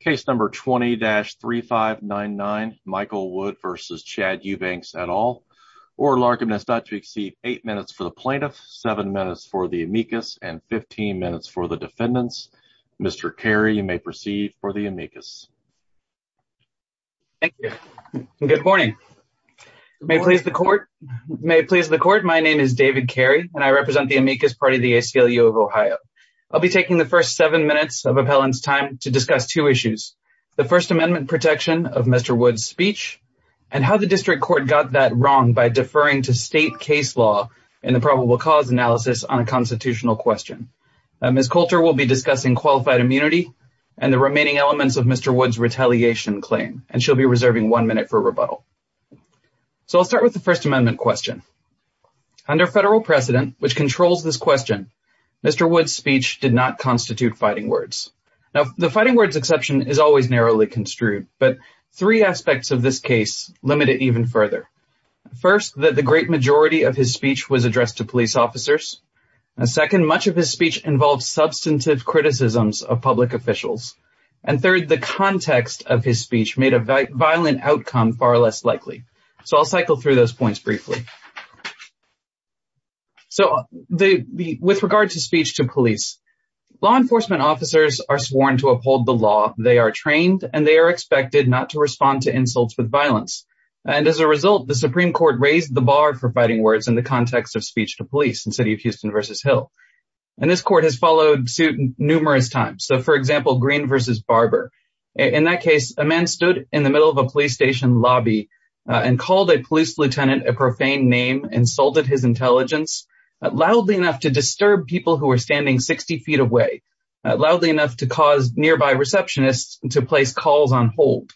Case number 20-3599 Michael Wood v. Chad Eubanks et al. Oral argument is not to exceed eight minutes for the plaintiff, seven minutes for the amicus, and 15 minutes for the defendants. Mr. Carey, you may proceed for the amicus. Thank you. Good morning. May it please the court, may it please the court, my name is David Carey and I represent the amicus party of the ACLU of Ohio. I'll be taking the first seven minutes of appellant's time to discuss two issues, the first amendment protection of Mr. Wood's speech and how the district court got that wrong by deferring to state case law in the probable cause analysis on a constitutional question. Ms. Coulter will be discussing qualified immunity and the remaining elements of Mr. Wood's retaliation claim and she'll be reserving one minute for rebuttal. So I'll start with the first amendment question. Under federal precedent, which controls this question, Mr. Wood's speech did not constitute fighting words. Now the fighting words exception is always narrowly construed, but three aspects of this case limit it even further. First, that the great majority of his speech was addressed to police officers. Second, much of his speech involved substantive criticisms of public officials. And third, the context of his speech made a violent outcome far less likely. So I'll cycle through those points briefly. So with regard to speech to police, law enforcement officers are sworn to uphold the law. They are trained and they are expected not to respond to insults with violence. And as a result, the Supreme Court raised the bar for fighting words in the context of speech to police in City of Houston versus Hill. And this court has followed suit numerous times. So for example, Green versus Barber. In that case, a man stood in the middle of a police station lobby and called a police lieutenant a profane name, insulted his intelligence, loudly enough to disturb people who were standing 60 feet away, loudly enough to cause nearby receptionists to place calls on hold.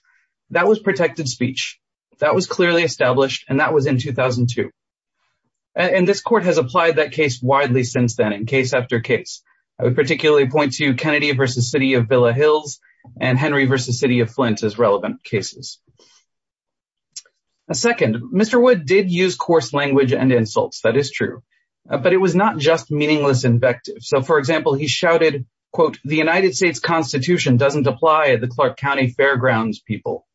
That was protected speech. That was clearly established, and that was in 2002. And this court has applied that case widely since then in case after case. I would particularly point to Kennedy versus City of Villa Hills and Henry versus City of Flint as relevant cases. Second, Mr. Wood did use coarse language and insults. That is true. But it was not just meaningless invective. So for example, he shouted, quote, the United States Constitution doesn't apply at the Clark County Fairgrounds people.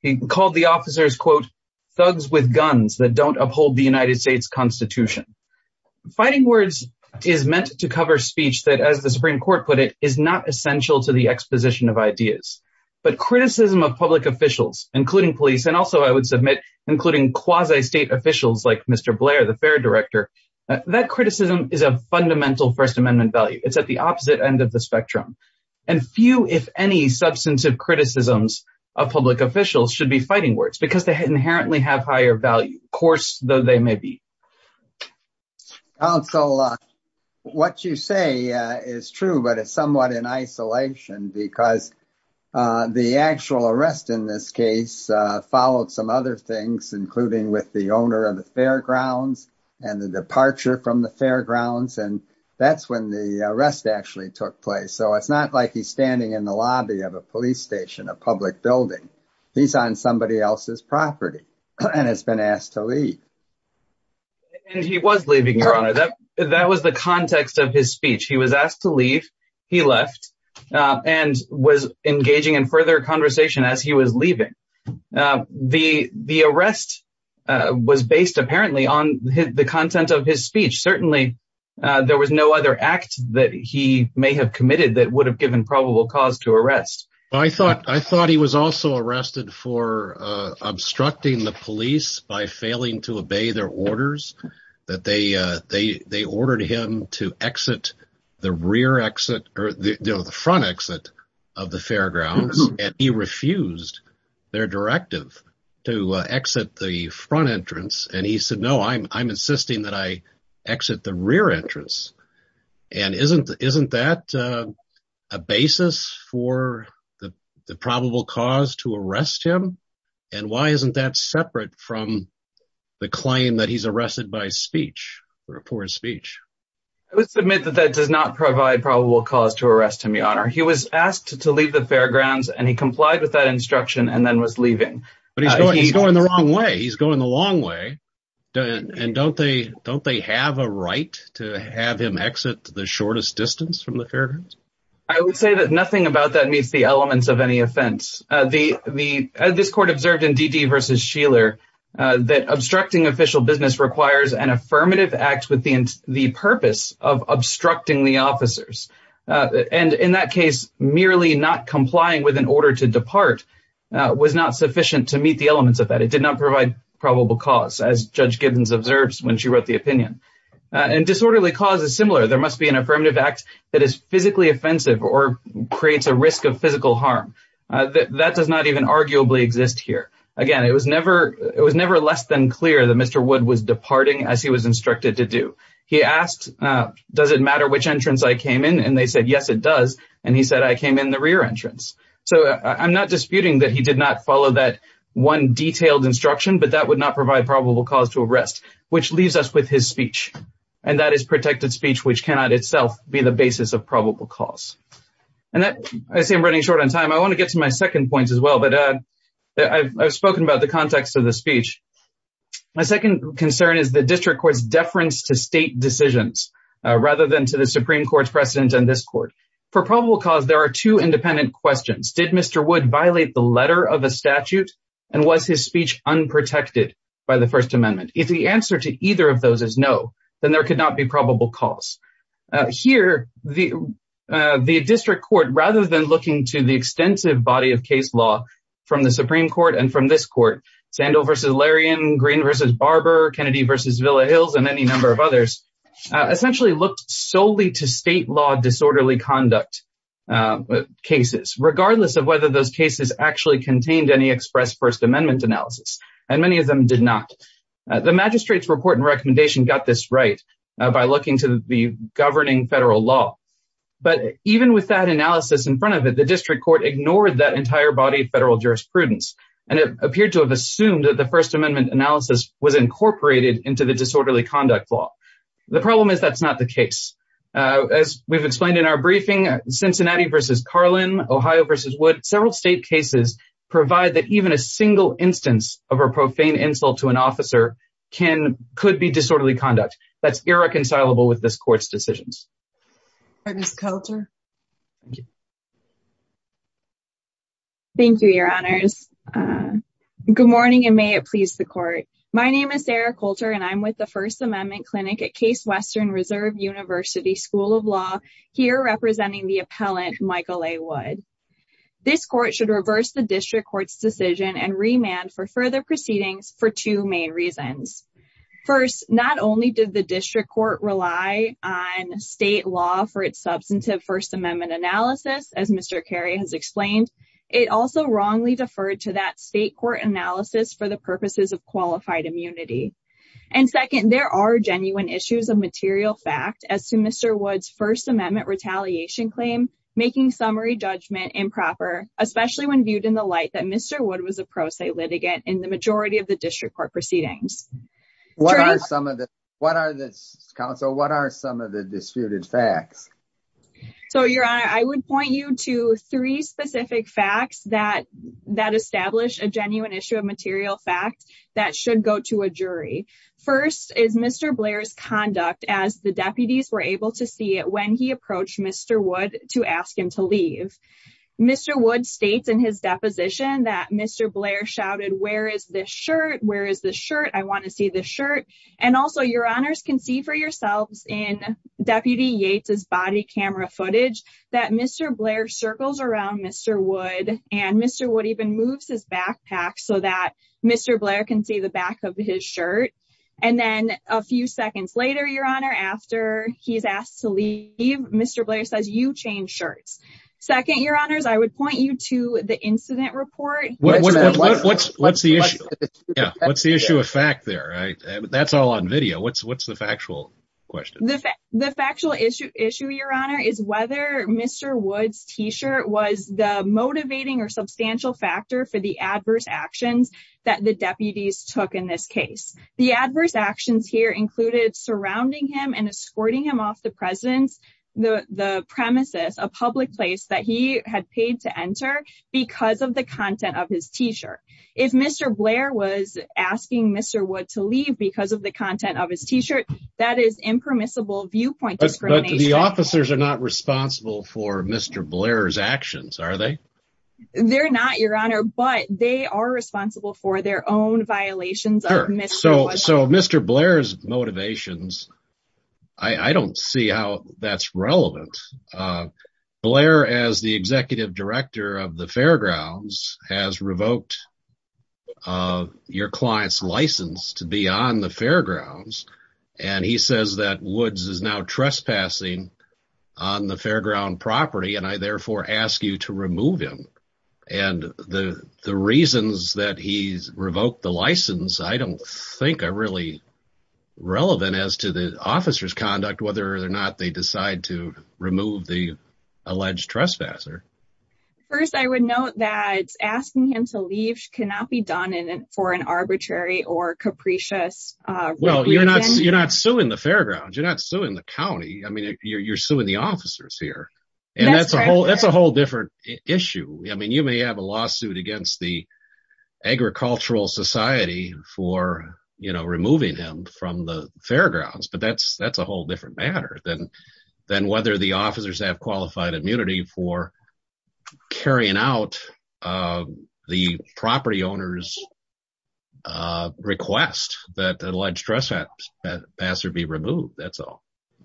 He called the officers, quote, thugs with guns that don't uphold the United States Constitution. Fighting words is meant to cover speech that, as the Supreme Court put it, is not essential to the exposition of ideas. But criticism of public officials, including police, and also, I would submit, including quasi-state officials like Mr. Blair, the fair director, that criticism is a fundamental First Amendment value. It's at the opposite end of the spectrum. And few, if any, substantive criticisms of public officials should be fighting words, because they inherently have higher value, coarse though they may be. Counsel, what you say is true, but it's somewhat in isolation, because the actual arrest in this case followed some other things, including with the owner of the fairgrounds and the departure from the fairgrounds. And that's when the arrest actually took place. So it's not like he's standing in the lobby of a police station, a public building. He's on somebody else's property and has been asked to leave. And he was leaving, Your Honor. That was the context of his speech. He was asked to leave. He left and was engaging in further conversation as he was leaving. The arrest was based, apparently, on the content of his speech. Certainly, there was no other act that he may have committed that would have given probable cause to arrest. I thought he was also arrested for obstructing the police by failing to obey their orders, that they ordered him to exit the rear exit or the front exit of the fairgrounds. And he refused their directive to exit the front entrance. And he said, no, I'm insisting that I exit the rear entrance. And isn't that a basis for the probable cause to arrest him? And why isn't that separate from the claim that he's arrested by speech or for his speech? I would submit that that does not provide probable cause to arrest him, Your Honor. He was asked to leave the fairgrounds and he complied with that instruction and then was leaving. But he's going the wrong way. He's going the long way. And don't they have a right to have him exit the shortest distance from the fairgrounds? I would say that nothing about that meets the elements of any offense. This court observed in Dede v. Sheeler that obstructing official business requires an affirmative act with the purpose of obstructing the officers. And in that case, merely not complying with an order to depart was not sufficient to meet the elements of that. It did not provide probable cause, as Judge Gibbons observes when she wrote the opinion. And disorderly cause is similar. There must be an affirmative act that is physically offensive or creates a risk of physical harm. That does not even arguably exist here. Again, it was never less than clear that Mr. Wood was departing as he was instructed to do. He asked, does it matter which entrance I came in? And they said, yes, it does. And he said, I came in the rear entrance. So I'm not disputing that he did not follow that one detailed instruction, but that would not provide probable cause to arrest, which leaves us with his speech. And that is protected speech, which cannot itself be the basis of probable cause. And I see I'm running short on time. I want to get to my second point as well. But I've spoken about the context of the speech. My second concern is the district court's deference to state decisions, rather than to the Supreme Court's precedent and this court. For probable cause, there are two independent questions. Did Mr. Wood violate the letter of the statute? And was his speech unprotected by the First Amendment? If the answer to either of those is no, then there could not be probable cause. Here, the district court, rather than looking to the extensive body of case law from the Supreme Court and from this court, Sandel versus Larian, Green versus Barber, Kennedy versus Villa Hills, and any number of others, essentially looked solely to state law disorderly conduct cases, regardless of whether those cases actually contained any express First Amendment. The magistrate's report and recommendation got this right by looking to the governing federal law. But even with that analysis in front of it, the district court ignored that entire body of federal jurisprudence. And it appeared to have assumed that the First Amendment analysis was incorporated into the disorderly conduct law. The problem is that's not the case. As we've explained in our briefing, Cincinnati versus Carlin, Ohio versus Wood, several state cases provide that even a single instance of a profane insult to an officer could be disorderly conduct. That's irreconcilable with this court's decisions. Thank you, your honors. Good morning, and may it please the court. My name is Sarah Coulter, and I'm with the First Amendment Clinic at Case Western Reserve University School of Law, here representing the appellant Michael A. Wood. This court should reverse the district court's decision and remand for further proceedings for two main reasons. First, not only did the district court rely on state law for its substantive First Amendment analysis, as Mr. Carey has explained, it also wrongly deferred to that state court analysis for the purposes of qualified immunity. And second, there are genuine issues of material fact as to Mr. Wood's First Amendment retaliation claim, making summary judgment improper, especially when viewed in the light that Mr. Wood was a pro se litigant in the majority of the district court proceedings. What are some of the disputed facts? Your honor, I would point you to three specific facts that establish a genuine issue of material fact that should go to a jury. First is Mr. Blair's conduct as the deputies were able to see it when he approached Mr. Wood to ask him to leave. Mr. Wood states in his deposition that Mr. Blair shouted, where is this shirt? Where is the shirt? I want to see the shirt. And also, your honors can see for yourselves in Deputy Yates's body camera footage that Mr. Blair circles around Mr. Wood and Mr. Wood even moves his backpack so that Mr. Blair can see the back of his shirt. And then a few seconds later, your honor, after he's asked to leave, Mr. Blair says, you change shirts. Second, your honors, I would point you to the incident report. What's the issue? What's the issue of fact there? That's all on video. What's the factual question? The factual issue, your honor, is whether Mr. Wood's t-shirt was the motivating or substantial factor for the adverse actions that the deputies took in this case. The adverse actions here included surrounding him and escorting him off the presence, the premises, a public place that he had paid to enter because of the content of his t-shirt. If Mr. Blair was asking Mr. Wood to leave because of the content of his t-shirt, that is impermissible viewpoint. The officers are not responsible for Mr. Blair's actions, are they? They're not, your honor, but they are responsible for their own violations. So Mr. Blair's motivations, I don't see how that's relevant. Blair, as the executive director of the fairgrounds, has revoked your client's license to be on the fairgrounds and he says that Woods is now trespassing on the fairground property and I therefore ask you to remove him. And the reasons that he's revoked the license, I don't think are really relevant as to the officer's conduct, whether or not they decide to remove the alleged trespasser. First, I would note that asking him to leave cannot be done for an arbitrary or capricious Well, you're not suing the fairgrounds. You're not suing the county. I mean, you're suing the officers here and that's a whole different issue. I mean, you may have a lawsuit against the agricultural society for removing him from the fairgrounds, but that's a whole different matter than whether the officers have qualified immunity for carrying out the property owner's request that the alleged trespasser be removed. That's all.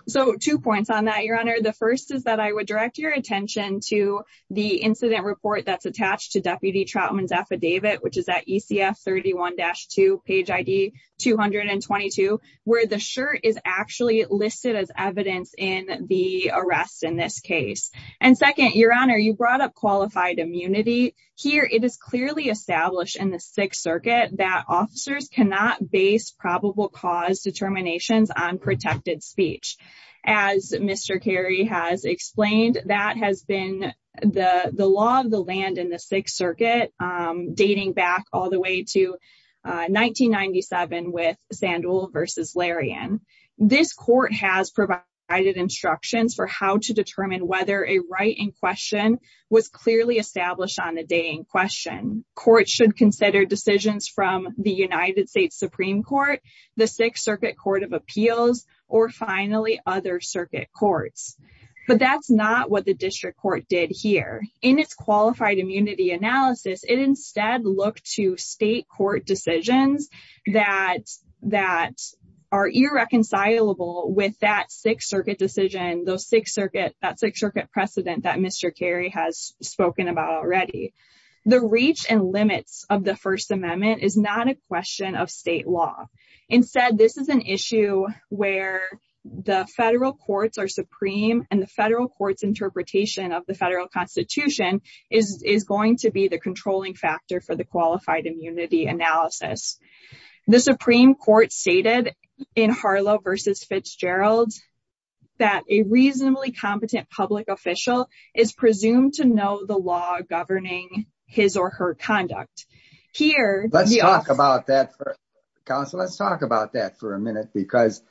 So two points on that, your honor. The first is that I would direct your attention to the incident report that's attached to Deputy Troutman's affidavit, which is at ECF 31-2, page ID 222, where the shirt is actually listed as evidence in the arrest in this case. And second, your honor, you brought up qualified immunity here. It is clearly established in the Sixth Circuit that officers cannot base probable cause determinations on protected speech. As Mr. Carey has explained, that has been the law of the land in the Sixth Circuit, dating back all the way to 1997 with Sandul v. Larian. This court has provided instructions for how to determine whether a right in question was clearly established on the day in question. Courts should consider decisions from the United States Supreme Court, the Sixth Circuit Court of Appeals, or finally other circuit courts. But that's not what the It instead look to state court decisions that are irreconcilable with that Sixth Circuit decision, those Sixth Circuit, that Sixth Circuit precedent that Mr. Carey has spoken about already. The reach and limits of the First Amendment is not a question of state law. Instead, this is an issue where the federal courts are supreme and the federal court's interpretation of the federal constitution is going to be the controlling factor for the qualified immunity analysis. The Supreme Court stated in Harlow v. Fitzgerald that a reasonably competent public official is presumed to know the law governing his or her conduct. Here- Let's talk about that for a minute because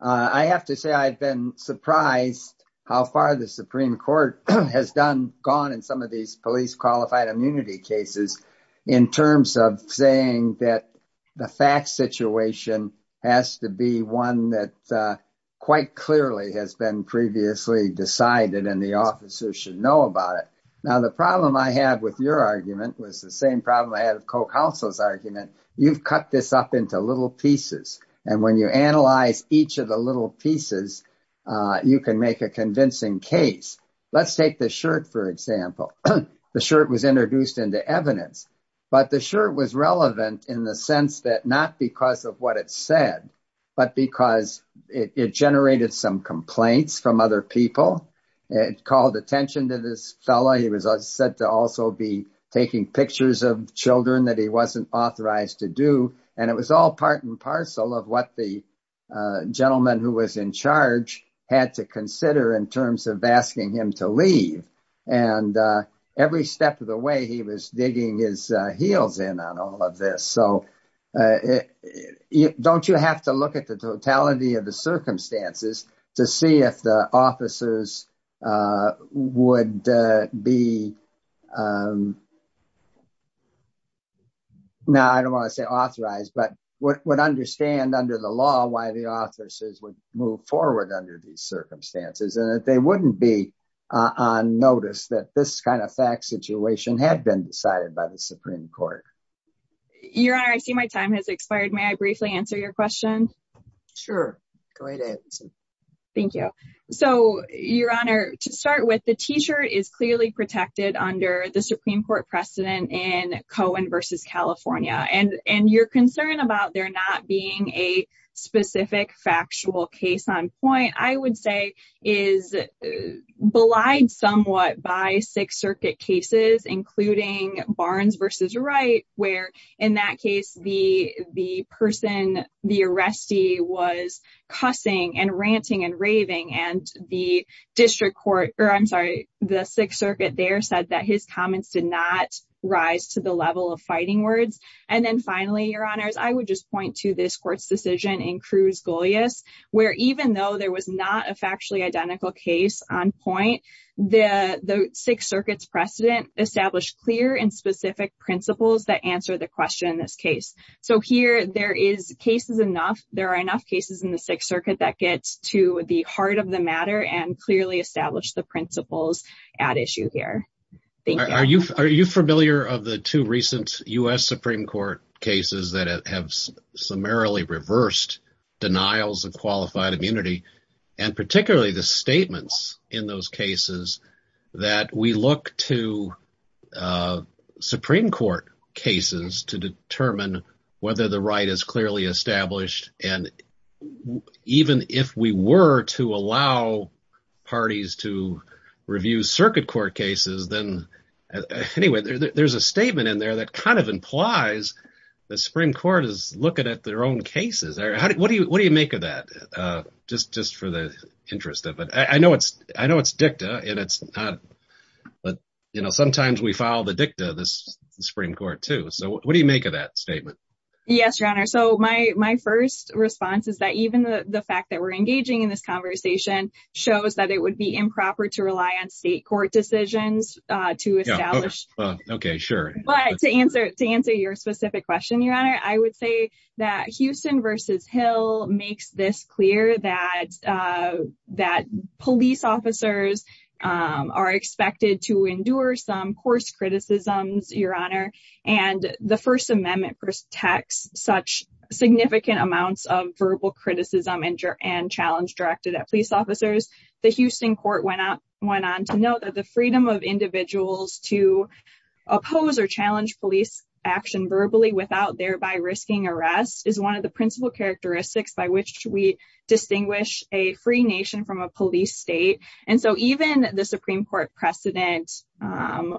I have to say I've been surprised how far the has gone in some of these police qualified immunity cases in terms of saying that the fact situation has to be one that quite clearly has been previously decided and the officers should know about it. Now the problem I had with your argument was the same problem I had with co-counsel's argument. You've cut this up into little pieces and when you analyze each of the little pieces, you can make a convincing case. Let's take the shirt for example. The shirt was introduced into evidence but the shirt was relevant in the sense that not because of what it said but because it generated some complaints from other people. It called attention to this fellow. He was said to also be taking pictures of children that he wasn't authorized to do and it was all part and parcel of what the gentleman who was in charge had to consider in terms of asking him to leave. Every step of the way he was digging his heels in on all of this. Don't you have to look at the totality of the circumstances to see if the officers would be um now I don't want to say authorized but what would understand under the law why the officers would move forward under these circumstances and that they wouldn't be on notice that this kind of fact situation had been decided by the Supreme Court? Your honor, I see my time has expired. May I briefly answer your question? Sure. Great answer. Thank you. So your honor, to start with the t-shirt is clearly protected under the Supreme Court precedent in Cohen versus California and and your concern about there not being a specific factual case on point I would say is belied somewhat by Sixth Circuit cases including Barnes versus Wright where in that case the person the arrestee was cussing and ranting and raving and the district court or I'm sorry the Sixth Circuit there said that his comments did not rise to the level of fighting words and then finally your honors I would just point to this court's decision in Cruz Golias where even though there was not a factually identical case on point the the Sixth Circuit's precedent established clear and specific principles that answer the question in this case. So here there is cases enough there are enough cases in the Sixth Circuit that gets to the heart of the matter and clearly establish the principles at issue here. Thank you. Are you familiar of the two recent U.S. Supreme Court cases that have summarily reversed denials of qualified immunity and particularly the statements in those cases that we look to Supreme Court cases to determine whether the right is clearly established and even if we were to allow parties to review circuit court cases then anyway there's a statement in there that kind of implies the Supreme Court is looking at their own cases. What do you what do you make of that? Just just for the interest of it I know it's I know it's dicta and it's not but you know sometimes we file the dicta this Supreme Court too so what do you make of that statement? Yes your honor so my my first response is that even the fact that we're engaging in this conversation shows that it would be improper to rely on state court decisions to establish. Okay sure. But to answer to answer your specific question your honor I would say that Houston versus Hill makes this clear that that police officers are expected to endure some course criticisms your honor and the first amendment protects such significant amounts of verbal criticism and challenge directed at police officers. The Houston court went out went on to note that the freedom of individuals to oppose or challenge police action verbally without thereby risking arrest is one of principal characteristics by which we distinguish a free nation from a police state and so even the Supreme Court precedent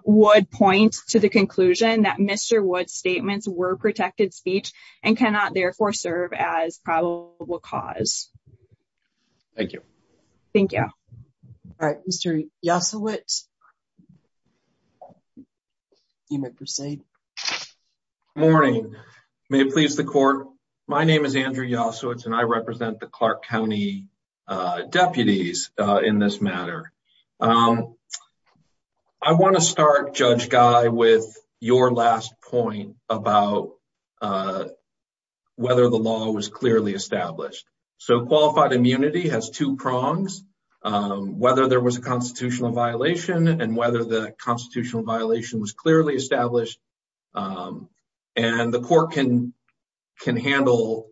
would point to the conclusion that Mr. Wood's statements were protected speech and cannot therefore serve as probable cause. Thank you. Thank you. All right you may proceed. Morning may it please the court my name is Andrew Yasowitz and I represent the Clark County deputies in this matter. I want to start Judge Guy with your last point about whether the law was clearly established so qualified immunity has two prongs whether there was a constitutional violation and whether the constitutional violation was clearly established and the court can can handle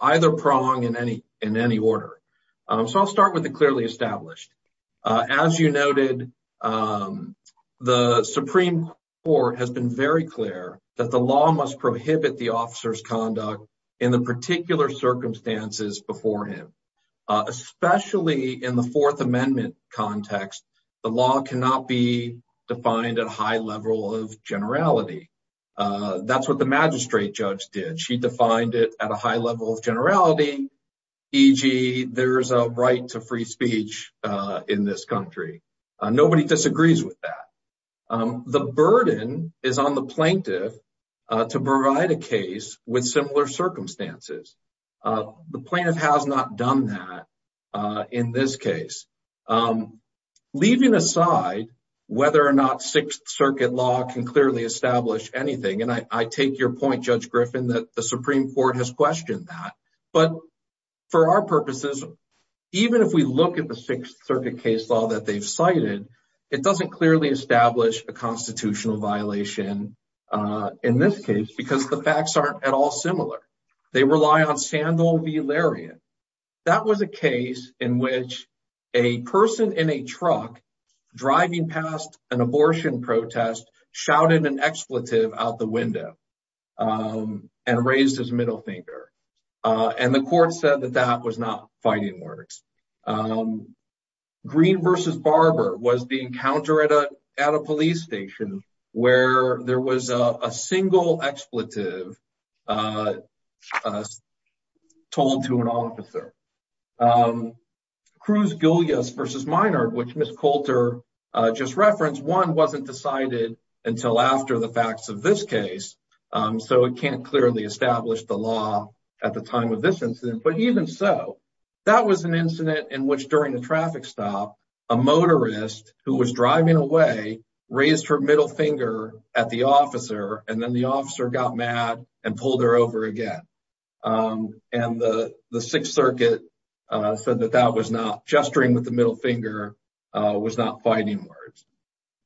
either prong in any in any order. So I'll start with the clearly established. As you noted the Supreme Court has been very clear that the law must in the fourth amendment context the law cannot be defined at a high level of generality. That's what the magistrate judge did. She defined it at a high level of generality e.g. there's a right to free speech in this country. Nobody disagrees with that. The burden is on the plaintiff to provide a case with similar circumstances. The plaintiff has not done that in this case. Leaving aside whether or not Sixth Circuit law can clearly establish anything and I take your point Judge Griffin that the Supreme Court has questioned that but for our purposes even if we look at the Sixth Circuit case law that they've cited it doesn't clearly establish a constitutional violation in this case because the facts aren't at all similar. They rely on Sandal v Larian. That was a case in which a person in a truck driving past an abortion protest shouted an expletive out the window and raised his middle finger and the court said that that was not fighting words. Green v. Barber was the encounter at a police station where there was a single expletive being told to an officer. Cruz Gullias v. Minard which Ms. Coulter just referenced one wasn't decided until after the facts of this case so it can't clearly establish the law at the time of this incident but even so that was an incident in which during the traffic stop a motorist who was driving away raised her middle finger at the officer and then the officer got mad and pulled her over again and the Sixth Circuit said that that was not gesturing with the middle finger was not fighting words.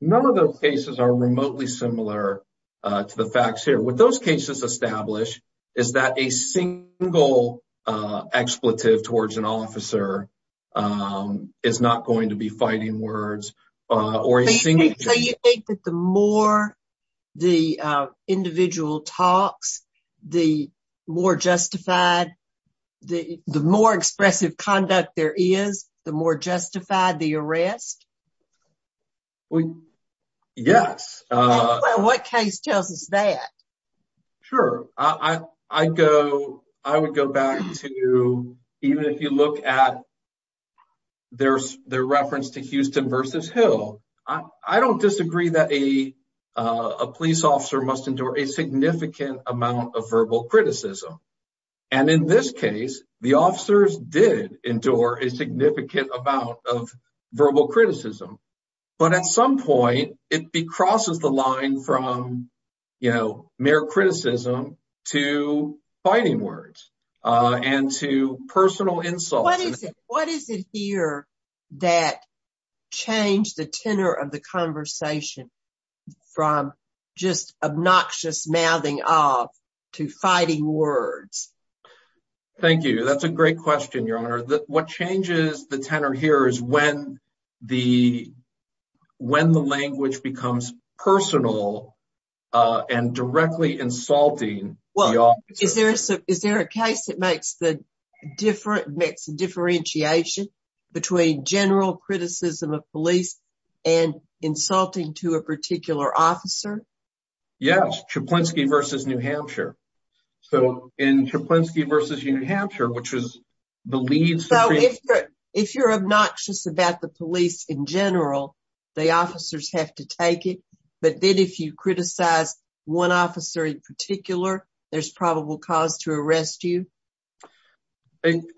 None of those cases are remotely similar to the facts here. What those cases establish is that a single expletive towards an officer is not going to be fighting words. Do you think that the more the individual talks the more justified the more expressive conduct there is the more justified the arrest? Well yes. What case tells us that? Sure I go I would go back to even if you look at their reference to Houston v. Hill I don't disagree that a police officer must endure a significant amount of verbal criticism and in this case the officers did endure a significant amount of verbal criticism but at some point it crosses the line from you know mere criticism to fighting words and to personal insults. What is it here that changed the tenor of the conversation from just obnoxious mouthing off to fighting words? Thank you that's a great question what changes the tenor here is when the when the language becomes personal and directly insulting. Well is there is there a case that makes the different makes a differentiation between general criticism of police and insulting to a particular officer? Yes Chaplinsky v. New Hampshire so in Chaplinsky v. New Hampshire which was the lead so if you're obnoxious about the police in general the officers have to take it but then if you criticize one officer in particular there's probable cause to arrest you.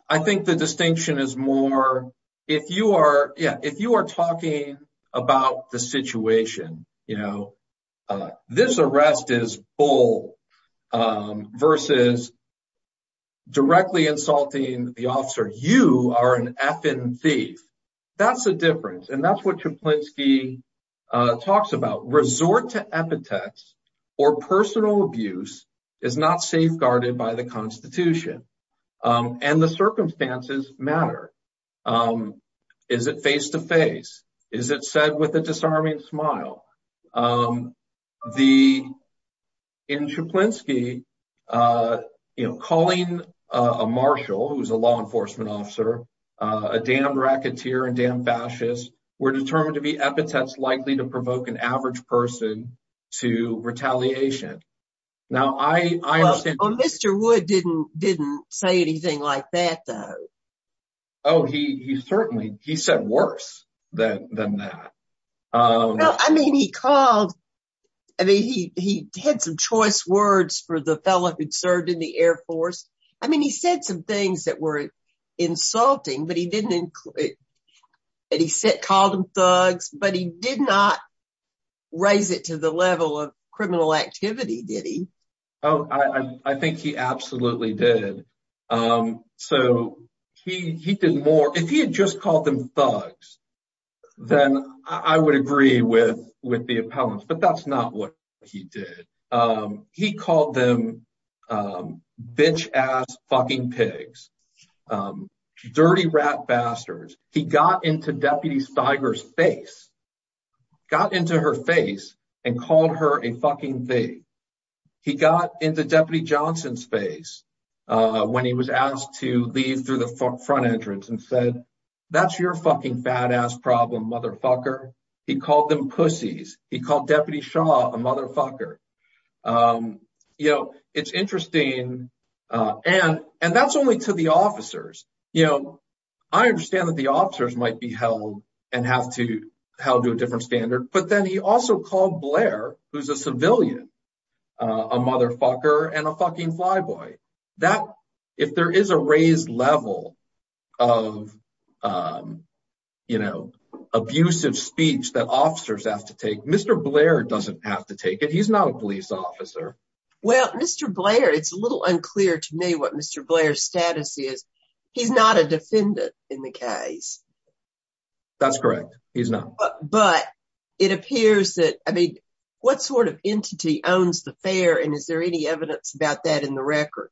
I think the distinction is more if you are yeah if you are versus directly insulting the officer you are an effing thief that's the difference and that's what Chaplinsky talks about. Resort to epithets or personal abuse is not safeguarded by the constitution and the circumstances matter. Is it face to face? Is it said with a disarming smile? In Chaplinsky you know calling a marshal who's a law enforcement officer a damn racketeer and damn fascist we're determined to be epithets likely to provoke an average person to retaliation. Now I understand. Well Mr. Wood didn't didn't say anything like that though. Oh he certainly he said worse than that. No I mean he called I mean he he had some choice words for the fellow who'd served in the air force. I mean he said some things that were insulting but he didn't include that he said called him thugs but he did not raise it to the level of criminal activity did he? Oh I think he absolutely did. So he he did more if he had just called them thugs then I would agree with with the appellants but that's not what he did. He called them bitch-ass fucking pigs, dirty rat bastards. He got into Deputy Steiger's face, got into her face and called her a fucking thing. He got into Deputy Johnson's face when he was asked to leave through the front entrance and said that's your fucking fat ass problem mother fucker. He called them pussies. He called Deputy Shaw a motherfucker. You know it's interesting and and that's only to the officers. You know I understand that the officers might be held and have to held to a different standard but then he also called Blair who's a civilian a motherfucker and a fucking fly boy. That if there is a raised level of you know abusive speech that officers have to take, Mr. Blair doesn't have to take it. He's not a police officer. Well Mr. Blair it's a little unclear to me what Mr. Blair's status is. He's not a defendant in the case. That's correct he's not. But it appears that I mean what sort of entity owns the fair and is there any evidence about that in the record?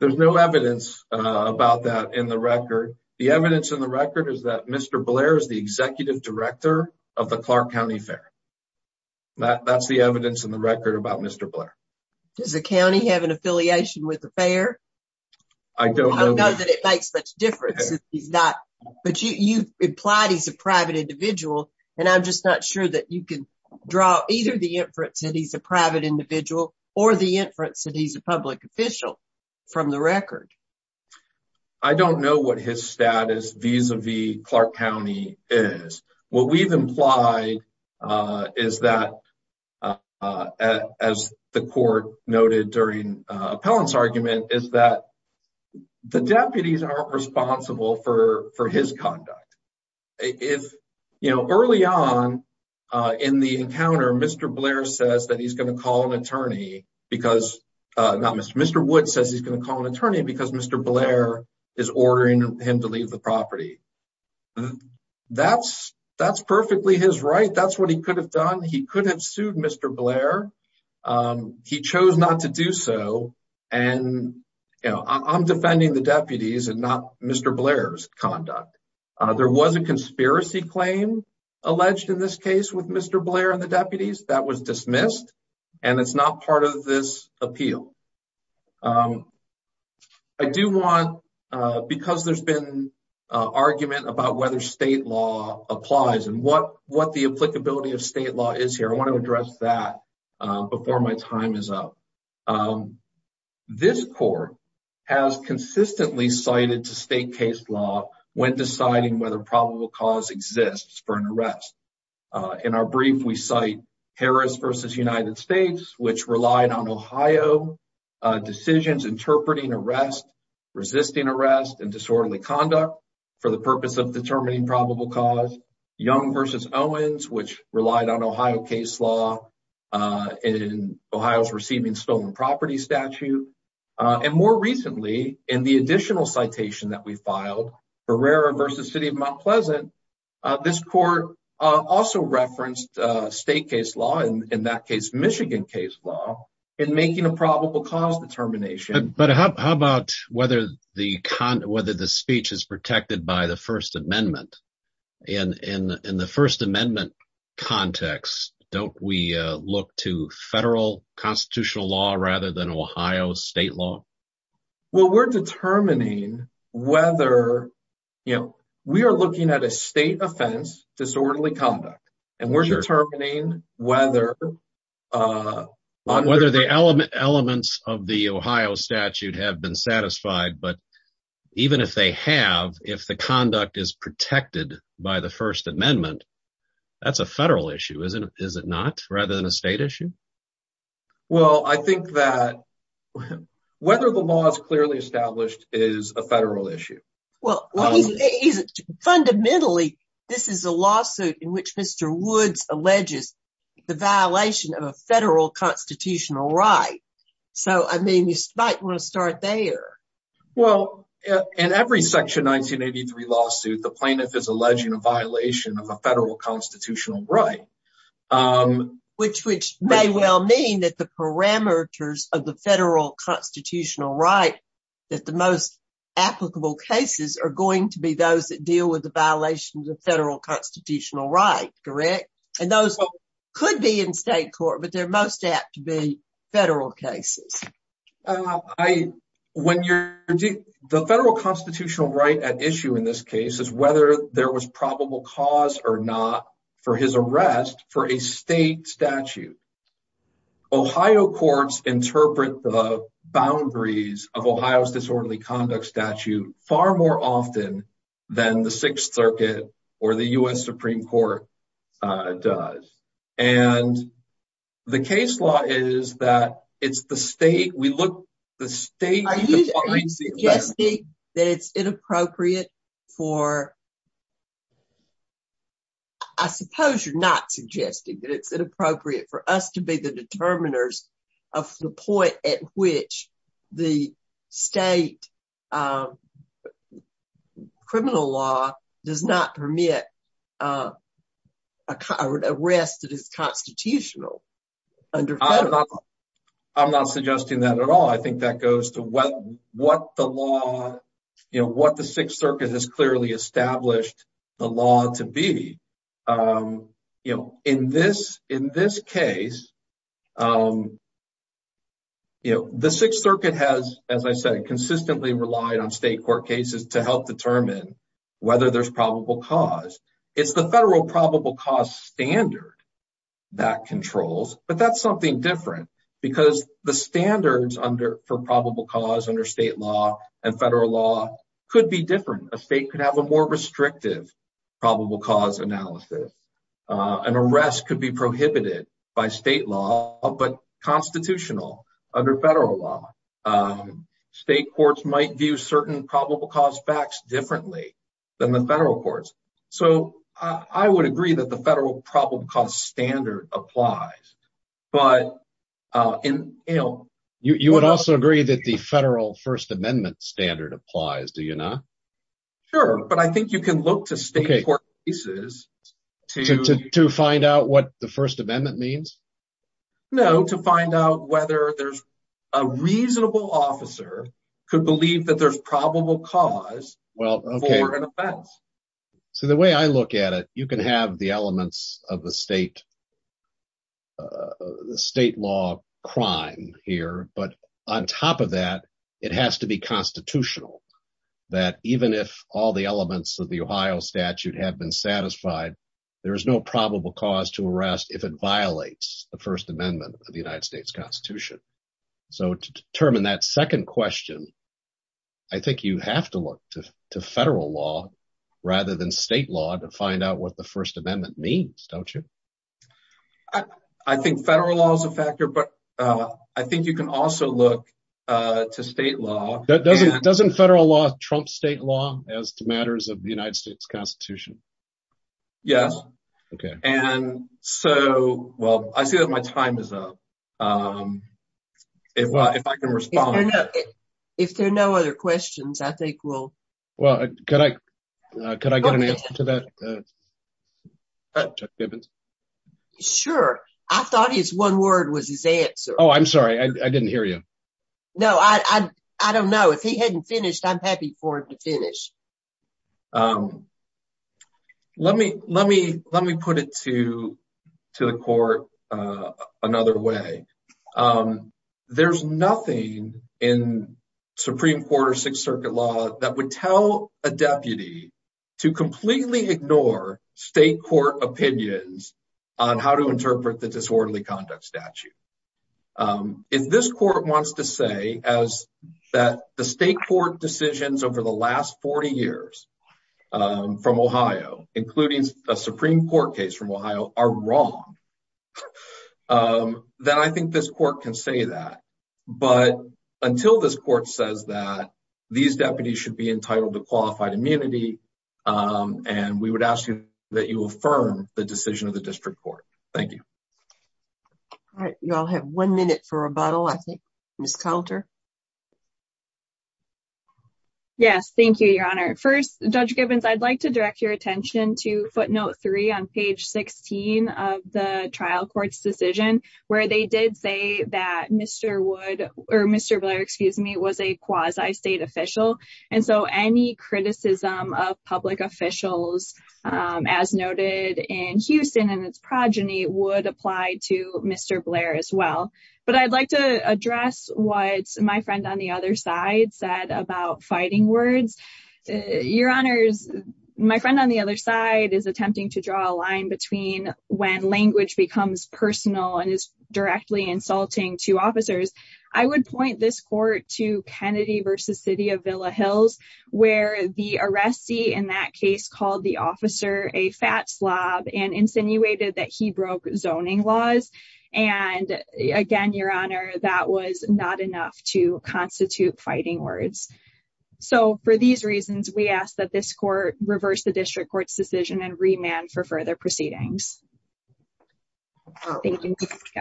There's no evidence about that in the record. The evidence in the record is that Mr. Blair is the executive director of the Clark County Fair. That's the evidence in the record about Mr. Blair. Does the county have an affiliation with the fair? I don't know that it makes much difference. But you've implied he's a private individual and I'm just not sure that you can draw either the inference that he's a private individual or the inference that he's a public official from the record. I don't know what his status vis-a-vis Clark County is. What we've implied is that as the court noted during appellant's argument is that the deputies aren't responsible for for his conduct. If you know early on in the encounter Mr. Blair says that he's going to call an attorney because uh not Mr. Mr. Wood says he's going to call an attorney because Mr. Blair is ordering him to leave the property. That's that's perfectly his right. That's what he could have done. He could have and you know I'm defending the deputies and not Mr. Blair's conduct. There was a conspiracy claim alleged in this case with Mr. Blair and the deputies that was dismissed and it's not part of this appeal. I do want because there's been argument about whether state law applies and what what the applicability of state law is here I want to address that before my time is up. This court has consistently cited to state case law when deciding whether probable cause exists for an arrest. In our brief we cite Harris versus United States which relied on Ohio decisions interpreting arrest resisting arrest and disorderly conduct for the purpose of determining probable cause. Young versus Owens which relied on Ohio case law in Ohio's receiving stolen property statute and more recently in the additional citation that we filed Barrera versus city of Mount Pleasant this court also referenced state case law in that case Michigan case law in making a probable cause determination. But how about whether the speech is protected by first amendment and in the first amendment context don't we look to federal constitutional law rather than Ohio state law? Well we're determining whether you know we are looking at a state offense disorderly conduct and we're determining whether the elements of the Ohio statute have been satisfied but even if they have if the conduct is protected by the first amendment that's a federal issue isn't it is it not rather than a state issue? Well I think that whether the law is clearly established is a federal issue. Well fundamentally this is a lawsuit in which Mr. Woods alleges the violation of a federal constitutional right so I mean you might want to start there. Well in every section 1983 lawsuit the plaintiff is alleging a violation of a federal constitutional right. Which which may well mean that the parameters of the federal constitutional right that the most applicable cases are going to be those that deal with the violations of federal constitutional right correct and those could be in state court but they're most apt to be federal cases. I when you're the federal constitutional right at issue in this case is whether there was probable cause or not for his arrest for a state statute. Ohio courts interpret the boundaries of Ohio's disorderly conduct statute far more often than the sixth circuit or the U.S. Supreme Court does and the case law is that it's the state we look the state that it's inappropriate for I suppose you're not suggesting that it's inappropriate for us to be the determiners of the point at which the state criminal law does not permit a current arrest that is constitutional. I'm not suggesting that at all I think that goes to what what the law you know what the you know the sixth circuit has as I said consistently relied on state court cases to help determine whether there's probable cause it's the federal probable cause standard that controls but that's something different because the standards under for probable cause under state law and federal law could be different a state could have a more restrictive probable cause analysis an arrest could be prohibited by state law but constitutional under federal law state courts might view certain probable cause facts differently than the federal courts so I would agree that the federal problem cost standard applies but in you know you would also agree that the federal first amendment standard do you not sure but I think you can look to state court cases to to find out what the first amendment means no to find out whether there's a reasonable officer could believe that there's probable cause well okay so the way I look at it you can have the elements of the state the state law crime here but on top of that it has to be constitutional that even if all the elements of the Ohio statute have been satisfied there is no probable cause to arrest if it violates the first amendment of the United States Constitution so to determine that second question I think you have to look to federal law rather than state law to find out what the first amendment means don't you I think federal law is a factor but I think you can also look to state law that doesn't doesn't federal law trump state law as to matters of the United States Constitution yes okay and so well I see that my time is up if I can respond if there are no other questions I think we'll well could I could I get an answer to that uh Chuck Gibbons sure I thought his one word was his answer oh I'm sorry I didn't hear you no I I don't know if he hadn't finished I'm happy for him to finish um let me let me let me put it to to the court uh another way um there's nothing in supreme court or sixth circuit law that would tell a deputy to completely ignore state court opinions on how to interpret the disorderly conduct statute um if this court wants to say as that the state court decisions over the last 40 years um from Ohio including a supreme court case from Ohio are wrong um then I think this court can say that but until this court says that these deputies should be entitled to qualified immunity and we would ask you that you affirm the decision of the district court thank you all right you all have one minute for rebuttal I think miss counter yes thank you your honor first judge Gibbons I'd like to direct your attention to footnote three on page 16 of the trial court's decision where they did say that Mr. Wood or Mr. Blair excuse me was a quasi state official and so any criticism of public officials um as noted in Houston and its other side said about fighting words your honors my friend on the other side is attempting to draw a line between when language becomes personal and is directly insulting to officers I would point this court to Kennedy versus city of Villa Hills where the arrestee in that case called the officer a fat slob and insinuated that he broke zoning laws and again your honor that was not enough to constitute fighting words so for these reasons we ask that this court reverse the district court's decision and remand for further proceedings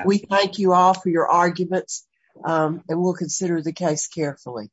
we thank you all for your arguments and we'll consider the case carefully